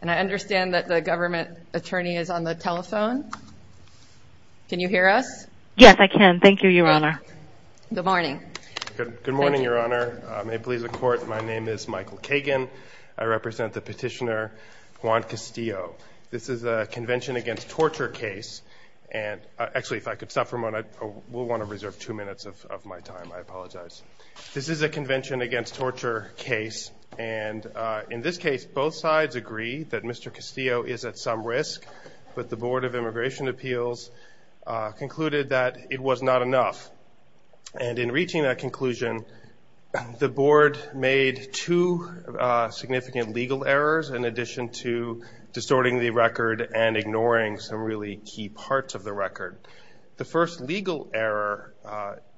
and I understand that the government attorney is on the telephone can you hear us yes I can thank you your honor good morning good morning your honor may it please the court my name is Michael Kagan I represent the petitioner Juan Castillo this is a convention against torture case and actually if I could stop for a moment I will want to reserve two minutes of my time I apologize this is a convention against torture case and in this case both sides agree that mr. Castillo is at some risk but the Board of Immigration Appeals concluded that it was not enough and in reaching that conclusion the board made two significant legal errors in addition to distorting the record and ignoring some really key parts of the record the first legal error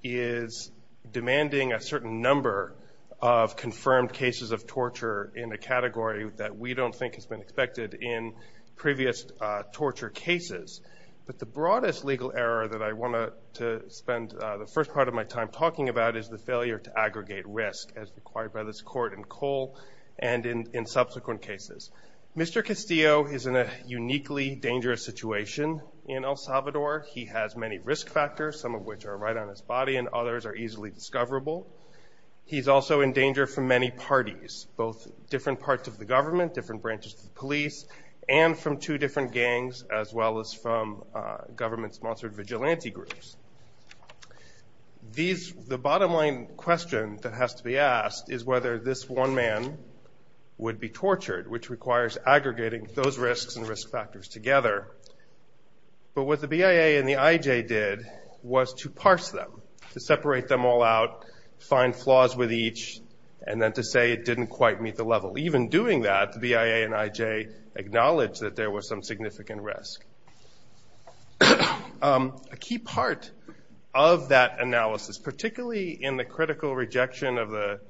is demanding a certain number of confirmed cases of torture in a category that we don't think has been expected in previous torture cases but the broadest legal error that I want to spend the first part of my time talking about is the failure to aggregate risk as required by this court in Cole and in subsequent cases mr. Castillo is in a uniquely dangerous situation in El Salvador he has many risk factors some which are right on his body and others are easily discoverable he's also in danger from many parties both different parts of the government different branches of police and from two different gangs as well as from government sponsored vigilante groups these the bottom line question that has to be asked is whether this one man would be tortured which requires aggregating those risks and risk factors together but what the BIA and the IJ did was to parse them to separate them all out find flaws with each and then to say it didn't quite meet the level even doing that the BIA and IJ acknowledged that there was some significant risk a key part of that analysis particularly in the critical rejection of the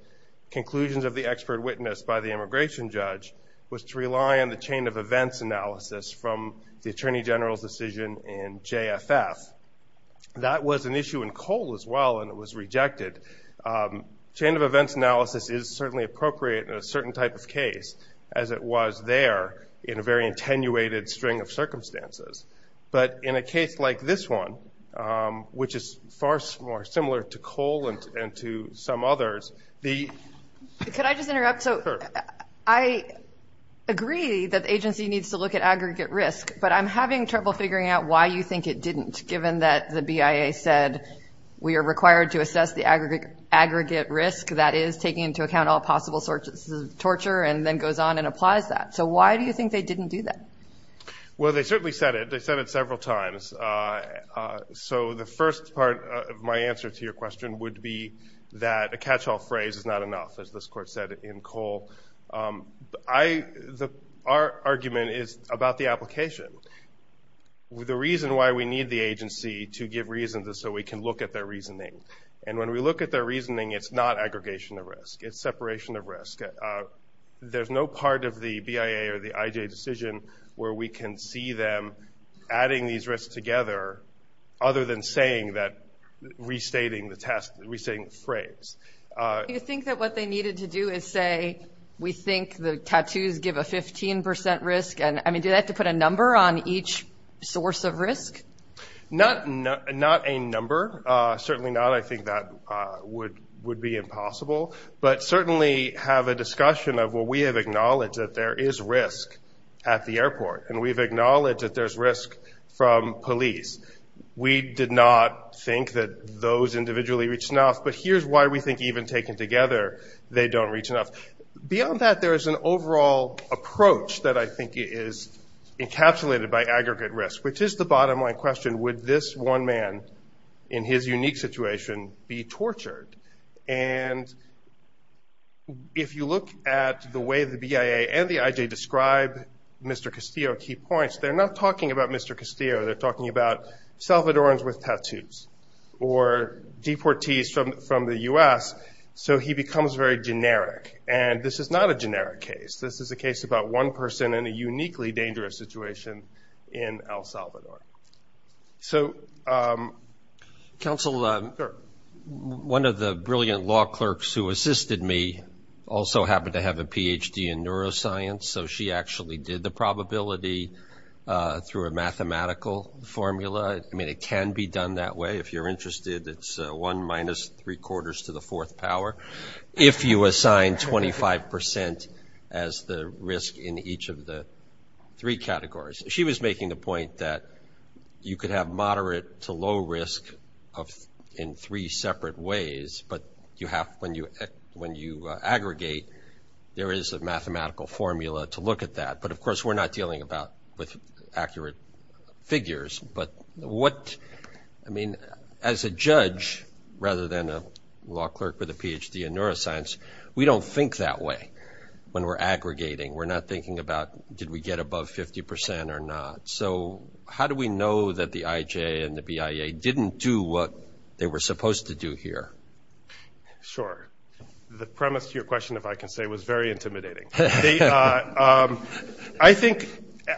conclusions of the expert witness by the immigration judge was to rely on the chain of events analysis from the that was an issue in Cole as well and it was rejected chain of events analysis is certainly appropriate in a certain type of case as it was there in a very attenuated string of circumstances but in a case like this one which is far more similar to Cole and to some others the could I just interrupt so I agree that agency needs to look at aggregate risk but I'm having trouble figuring out why you think it didn't given that the BIA said we are required to assess the aggregate aggregate risk that is taking into account all possible sources of torture and then goes on and applies that so why do you think they didn't do that well they certainly said it they said it several times so the first part of my answer to your question would be that a catch-all phrase is not enough as this court said in Cole I the argument is about the application with the reason why we need the agency to give reason to so we can look at their reasoning and when we look at their reasoning it's not aggregation of risk it's separation of risk there's no part of the BIA or the IJ decision where we can see them adding these risks together other than saying that restating the test we saying phrase you think that what they needed to do is say we think the tattoos give a 15% risk and I mean do that to put a number on each source of risk not not a number certainly not I think that would would be impossible but certainly have a discussion of what we have acknowledged that there is risk at the airport and we've acknowledged that there's risk from police we did not think that those individually reach enough but here's why we think even taken together they don't reach enough beyond that there is an overall approach that I think is encapsulated by aggregate risk which is the bottom line question with this one man in his unique situation be tortured and if you look at the way the BIA and the IJ describe Mr. Castillo key points they're not talking about Mr. Castillo they're talking about Salvadorans with tattoos or deportees from from the US so he becomes very generic and this is not a generic case this is a case about one person in a uniquely dangerous situation in El Salvador so council one of the brilliant law clerks who assisted me also happen to have a PhD in I mean it can be done that way if you're interested it's 1-3 quarters to the fourth power if you assign 25% as the risk in each of the three categories she was making the point that you could have moderate to low risk of in three separate ways but you have when you when you aggregate there is a mathematical formula to look at that but of course we're not dealing about with accurate figures but what I mean as a judge rather than a law clerk with a PhD in neuroscience we don't think that way when we're aggregating we're not thinking about did we get above 50% or not so how do we know that the IJ and the BIA didn't do what they were supposed to do here sure the premise to your question if I can say was very intimidating I think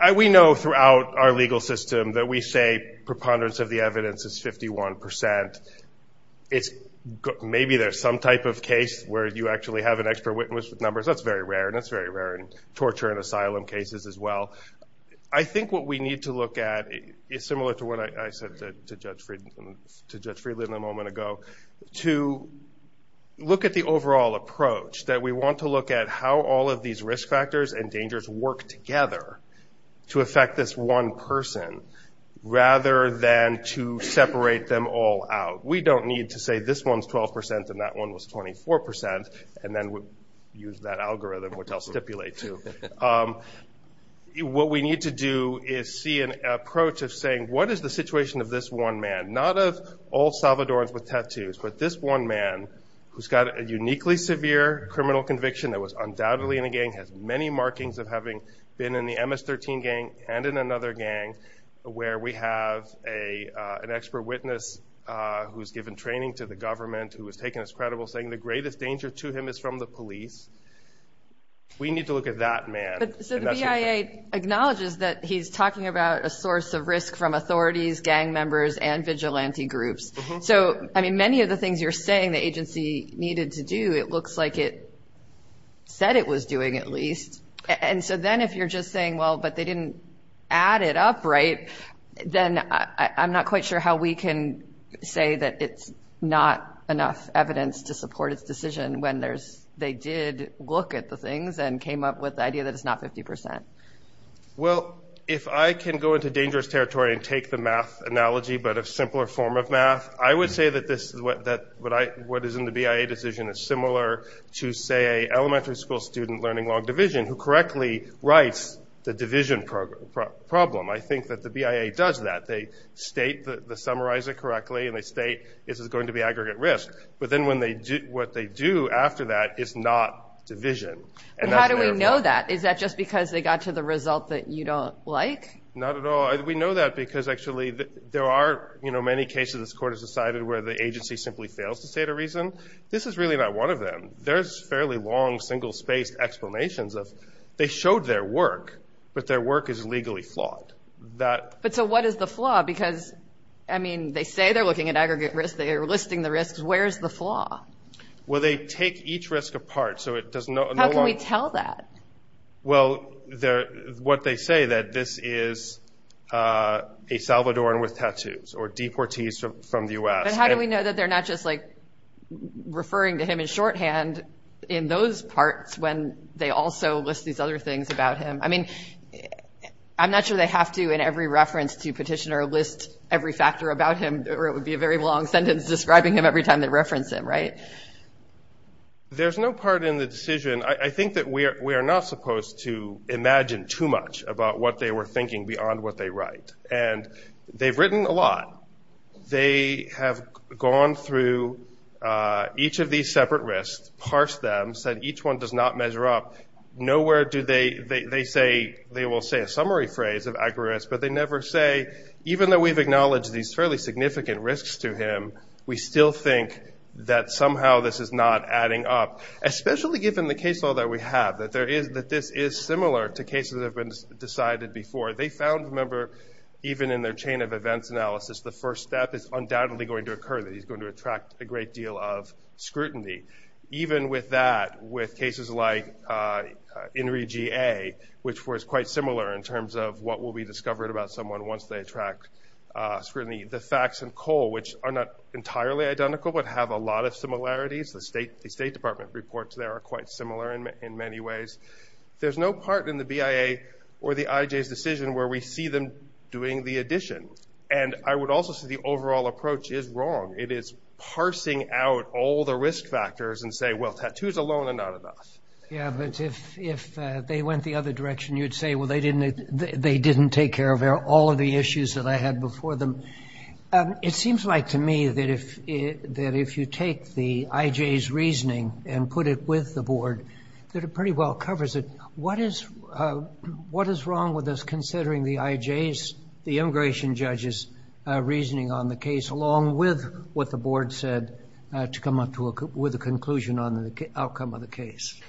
I we know throughout our legal system that we say preponderance of the evidence is 51% it's maybe there's some type of case where you actually have an expert witness with numbers that's very rare and it's very rare and torture and asylum cases as well I think what we need to look at is similar to what I said to judge freedom to judge freedom a moment ago to look at the overall approach that we want to look at how all of these risk factors and dangers work together to affect this one person rather than to separate them all out we don't need to say this one's 12% and that one was 24% and then we use that algorithm which I'll stipulate to what we need to do is see an approach of saying what is the situation of this one man not of all Salvadorans with tattoos but this one man who's got a uniquely severe criminal conviction that was been in the ms-13 gang and in another gang where we have a an expert witness who's given training to the government who was taken as credible saying the greatest danger to him is from the police we need to look at that man acknowledges that he's talking about a source of risk from authorities gang members and vigilante groups so I mean many of the things you're saying the agency needed to do it looks like it said it was doing at least and so then if you're just saying well but they didn't add it up right then I'm not quite sure how we can say that it's not enough evidence to support its decision when there's they did look at the things and came up with the idea that it's not 50% well if I can go into dangerous territory and take the math analogy but a simpler form of math I would say that this is what that what I what is in the BIA decision is similar to say elementary school student learning long division who correctly writes the division program problem I think that the BIA does that they state the summarize it correctly and they state this is going to be aggregate risk but then when they do what they do after that it's not division and how do we know that is that just because they got to the result that you don't like not at all we know that because actually there are you know many cases this court has decided where the agency simply fails to state a reason this is really not one of them there's fairly long single spaced explanations of they showed their work but their work is legally flawed that but so what is the flaw because I mean they say they're looking at aggregate risk they are listing the risks where's the flaw well they take each risk apart so it does not tell that well there what they say that this is a Salvadoran with tattoos or deportees from the u.s. and how do we know that they're not just like referring to him in shorthand in those parts when they also list these other things about him I mean I'm not sure they have to in every reference to petitioner list every factor about him or it would be a very long sentence describing him every time they reference him right there's no part in the decision I think that we are we are not supposed to imagine too much about what they were thinking beyond what they write and they've written a lot they have gone through each of these separate risks parse them said each one does not measure up nowhere do they they say they will say a summary phrase of aggregates but they never say even though we've acknowledged these fairly significant risks to him we still think that somehow this is not adding up especially given the case all that we have that there is that this is similar to cases have been decided before they found a member even in their chain of events analysis the first step is undoubtedly going to occur that he's going to attract a great deal of scrutiny even with that with cases like in regi a which was quite similar in terms of what will be discovered about someone once they attract scrutiny the facts and coal which are not entirely identical but have a lot of similarities the state the State Department reports there are quite similar in many ways there's no part in the BIA or the IJ's where we see them doing the addition and I would also see the overall approach is wrong it is parsing out all the risk factors and say well tattoos alone are not enough yeah but if if they went the other direction you'd say well they didn't they didn't take care of all of the issues that I had before them it seems like to me that if that if you take the IJ's reasoning and put it with the board that it pretty well covers it what is what is wrong with this considering the IJ's the immigration judges reasoning on the case along with what the board said to come up to a with a conclusion on the outcome of the case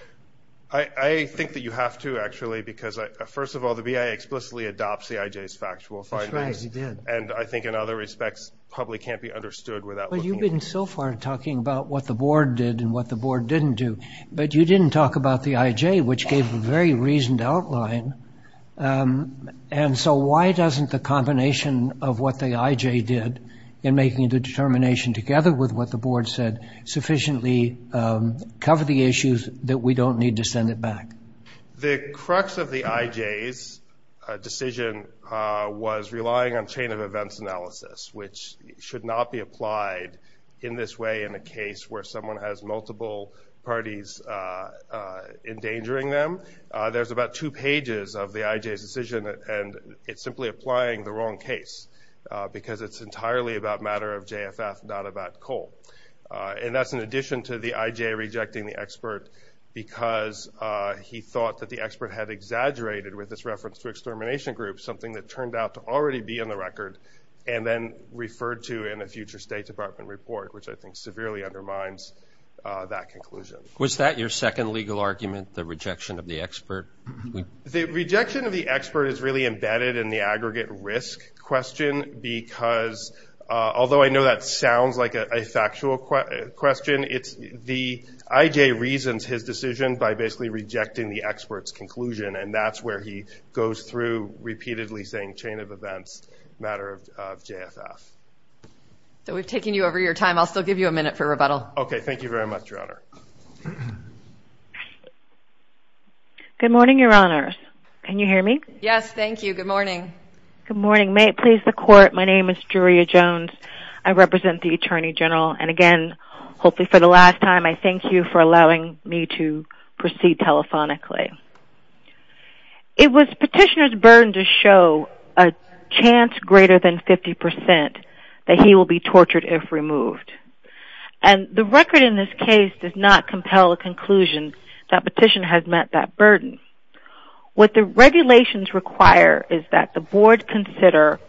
I think that you have to actually because I first of all the BIA explicitly adopts the IJ's factual findings and I think in other respects probably can't be understood without but you've been so far talking about what the board did and what the board didn't do but you didn't talk about the IJ which gave a very reasoned outline and so why doesn't the combination of what the IJ did in making the determination together with what the board said sufficiently cover the issues that we don't need to send it back the crux of the IJ's decision was relying on chain of events analysis which should not be applied in this way in a case where someone has multiple parties endangering them there's about two pages of the IJ's decision and it's simply applying the wrong case because it's entirely about matter of JFF not about coal and that's in addition to the IJ rejecting the expert because he thought that the expert had exaggerated with this reference to extermination group something that turned out to already be in the record and then referred to in a future State Department report which I think severely undermines that conclusion Was that your second legal argument the rejection of the expert? The rejection of the expert is really embedded in the aggregate risk question because although I know that sounds like a factual question it's the IJ reasons his decision by basically rejecting the experts conclusion and that's where he goes through repeatedly saying chain of events matter of JFF. So we've taken you over your time I'll still give you a minute for rebuttal. Okay, thank you very much your honor. Good morning your honors. Can you hear me? Yes, thank you. Good morning. Good morning may it please the court my name is Juria Jones I represent the Attorney General and again hopefully for the last time I thank you for allowing me to proceed telephonically. It was petitioners burden to show a chance greater than 50% that he will be tortured if removed and the record in this case does not compel a conclusion that petition has met that burden. What the regulations require is that the board consider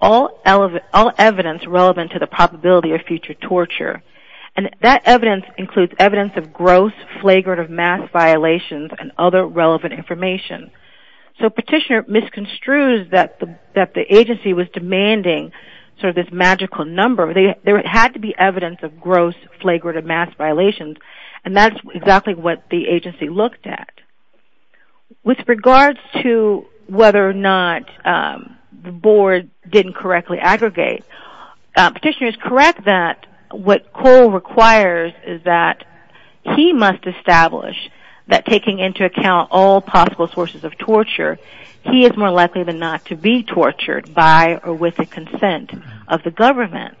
all elements all evidence relevant to the probability of future torture and that evidence includes evidence of gross flagrant of mass violations and other relevant information. So petitioner misconstrues that the that the agency was demanding sort of this magical number they had to be evidence of gross flagrant of mass violations and that's exactly what the agency looked at. With regards to whether or not the board didn't correctly aggregate petitioner is correct that what Cole requires is that he must establish that taking into account all possible sources of torture he is more likely than not to be tortured by or with the consent of the government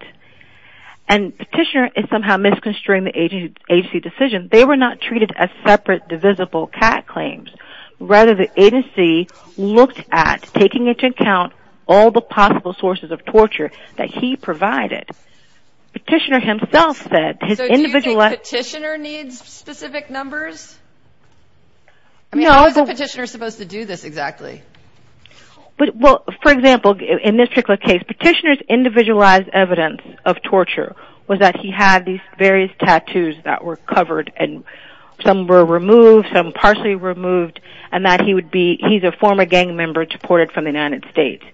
and petitioner is somehow misconstruing the agency decision they were not treated as separate divisible cat claims rather the agency looked at taking into account all the possible sources of torture that he was supposed to do this exactly but what for example in this particular case petitioners individualized evidence of torture was that he had these various tattoos that were covered and some were removed some partially removed and that he would be either former gang member deported from the United States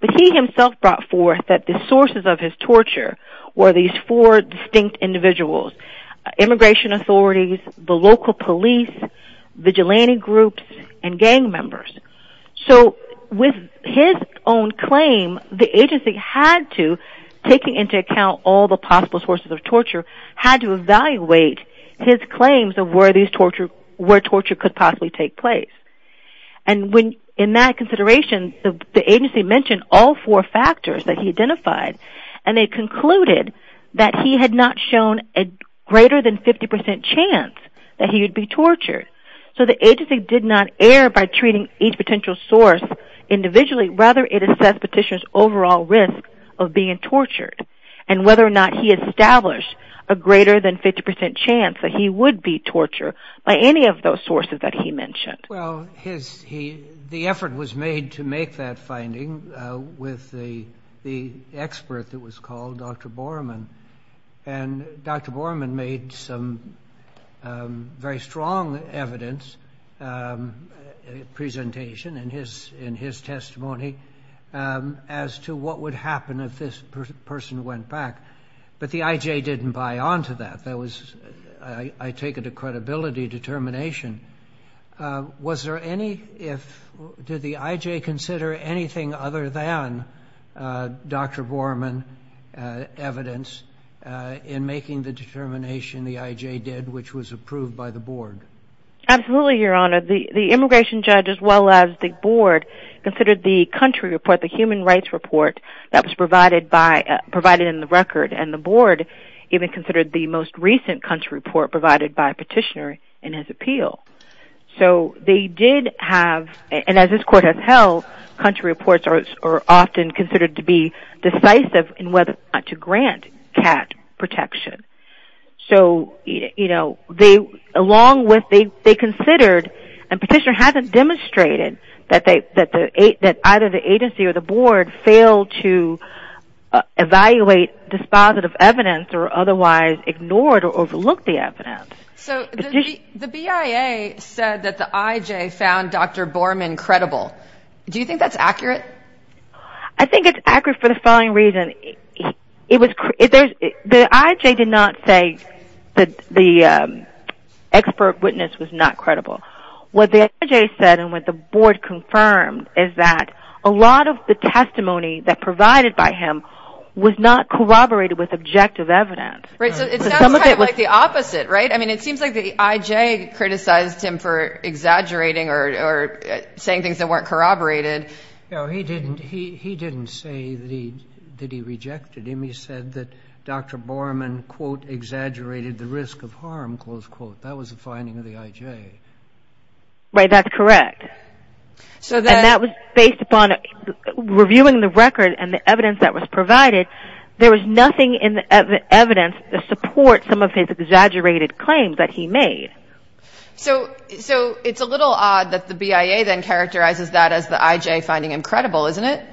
but he himself brought forth that the sources of his torture were these four distinct individuals immigration authorities the local police vigilante groups and gang members so with his own claim the agency had to taking into account all the possible sources of torture had to evaluate his claims of where these torture where torture could possibly take place and when in that consideration the agency mentioned all four factors that he identified and they concluded that he had not shown a greater than 50% chance that he would be tortured so the agency did not air by treating each potential source individually rather it is that petitioners overall risk of being tortured and whether or not he established a greater than 50% chance that he would be torture by any of those sources that he mentioned well his he the effort was made to make that finding with the the expert that was called dr. Borman and dr. Borman made some very strong evidence presentation in his in his testimony as to what would happen if this person went back but the IJ didn't buy on to that that was I take it a credibility determination was there any if did the IJ consider anything other than dr. Borman evidence in making the determination the IJ did which was approved by the board absolutely your honor the the immigration judge as well as the board considered the country report the human rights report that was provided by provided in the record and the board even considered the most recent country report provided by have and as this court has held country reports are often considered to be decisive in whether to grant cat protection so you know they along with they they considered and petitioner haven't demonstrated that they that the eight that either the agency or the board failed to evaluate dispositive evidence or otherwise ignored or overlooked the evidence so the BIA said that the IJ found dr. Borman credible do you think that's accurate I think it's accurate for the following reason it was if there's the IJ did not say that the expert witness was not credible what they said and what the board confirmed is that a lot of the testimony that provided by him was not corroborated with objective evidence right so it sounds like the opposite right I mean it exaggerating or saying things that weren't corroborated no he didn't he he didn't say that he did he rejected him he said that dr. Borman quote exaggerated the risk of harm close quote that was the finding of the IJ right that's correct so that was based upon reviewing the record and the evidence that was provided there was nothing in the evidence the support some of his exaggerated claims that he made so so it's a little odd that the BIA then characterizes that as the IJ finding him credible isn't it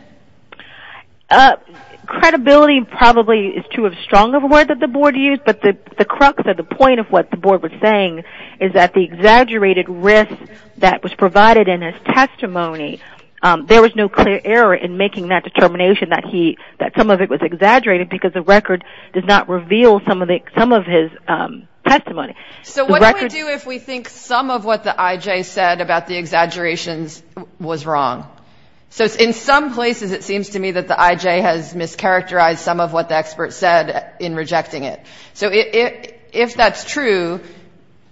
up credibility probably is to have strong of a word that the board used but the the crux of the point of what the board was saying is that the exaggerated risk that was provided in his testimony there was no clear error in making that determination that he that some of it was exaggerated because the record does not reveal some of the some of his testimony so what do we do if we think some of what the IJ said about the exaggerations was wrong so in some places it seems to me that the IJ has mischaracterized some of what the experts said in rejecting it so if that's true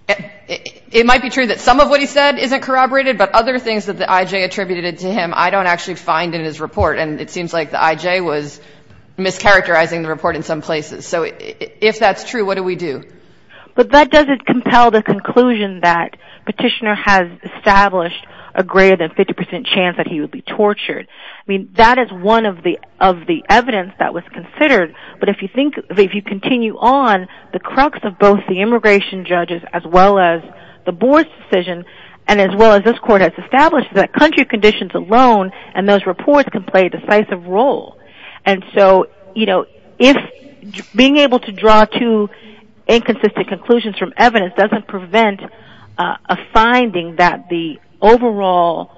it might be true that some of what he said isn't corroborated but other things that the IJ attributed to him I don't actually find in his report and it seems like the IJ was mischaracterizing the report in some places so if that's true what do we do but that doesn't compel the conclusion that petitioner has established a greater than 50% chance that he would be tortured I mean that is one of the of the evidence that was considered but if you think if you continue on the crux of both the immigration judges as well as the board's decision and as well as this court has established that country conditions alone and those reports can play a decisive role and so you know if being able to draw two inconsistent conclusions from evidence doesn't prevent a finding that the overall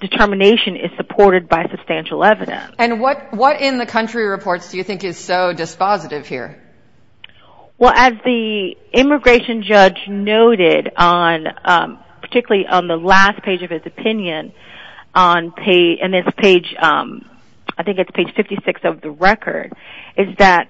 determination is supported by substantial evidence and what what in the country reports do you think is so dispositive here well as the immigration judge noted on particularly on the last page of his opinion on pay and this page I think it's page 56 of the record is that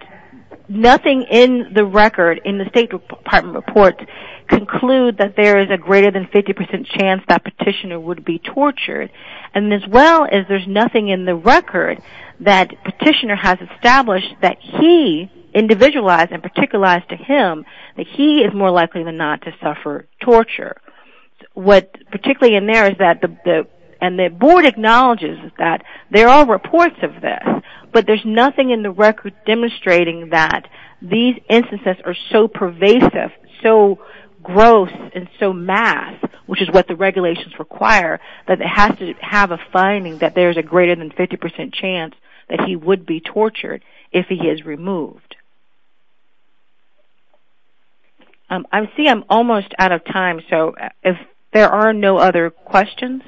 nothing in the record in the State Department reports conclude that there is a greater than 50% chance that petitioner would be tortured and as well as there's nothing in the record that petitioner has established that he individualized and particularized to him that he is more likely than not to suffer torture what particularly in there is that the and the board acknowledges that there are reports of this but there's nothing in the record demonstrating that these instances are so pervasive so gross and so mass which is what the regulations require that it has to have a finding that there's a greater than 50% chance that he would be tortured if he is removed I'm see I'm almost out of time so if there are no other questions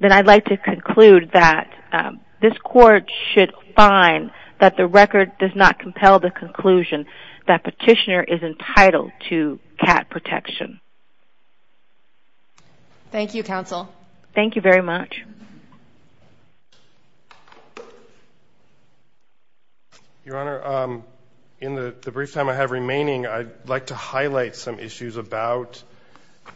then I'd like to this court should find that the record does not compel the conclusion that petitioner is entitled to cat protection thank you counsel thank you very much your honor in the brief time I have remaining I'd like to highlight some issues about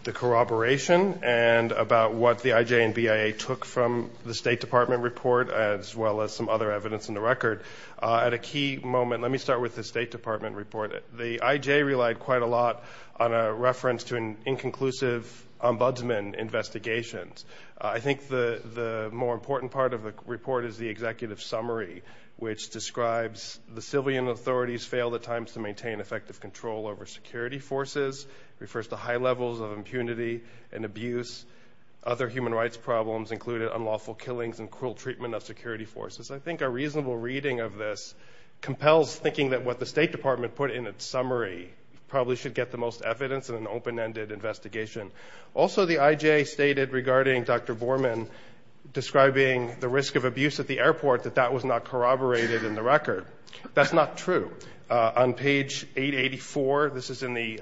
the corroboration and about what the IJ and BIA took from the State Department report as well as some other evidence in the record at a key moment let me start with the State Department report the IJ relied quite a lot on a reference to an inconclusive ombudsman investigations I think the the more important part of the report is the executive summary which describes the civilian authorities failed at times to maintain effective control over security forces refers to high levels of impunity and abuse other human rights problems included unlawful killings and cruel treatment of security forces I think a reasonable reading of this compels thinking that what the State Department put in its summary probably should get the most evidence in an open-ended investigation also the IJ stated regarding dr. Borman describing the risk of abuse at the airport that that was not corroborated in the record that's not true on page 884 this is in the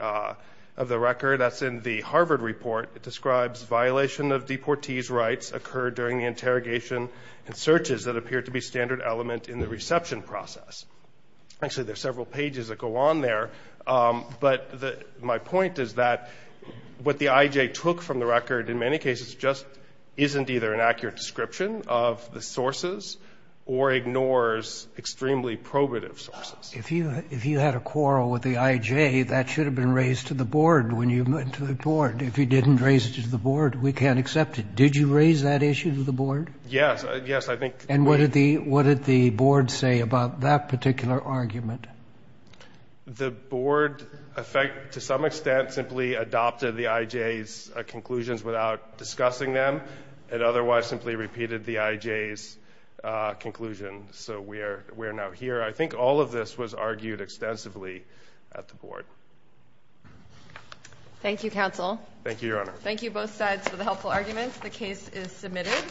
of the record that's in the Harvard report it describes violation of deportees rights occurred during the interrogation and searches that appeared to be standard element in the reception process actually there's several pages that go on there but the my point is that what the IJ took from the record in many cases just isn't either an accurate description of the sources or ignores extremely probative sources if you if you had a quarrel with the IJ that should have been raised to the board when you went to the board if you didn't raise it to the board we can't accept it did you raise that issue to the board yes yes I think and what did the what did the board say about that particular argument the board effect to some extent simply adopted the IJ's conclusions without discussing them and otherwise simply repeated the IJ's conclusion so we are we're now here I think all of this was argued extensively at the board thank you counsel thank you your honor thank you both sides for the helpful arguments the case is submitted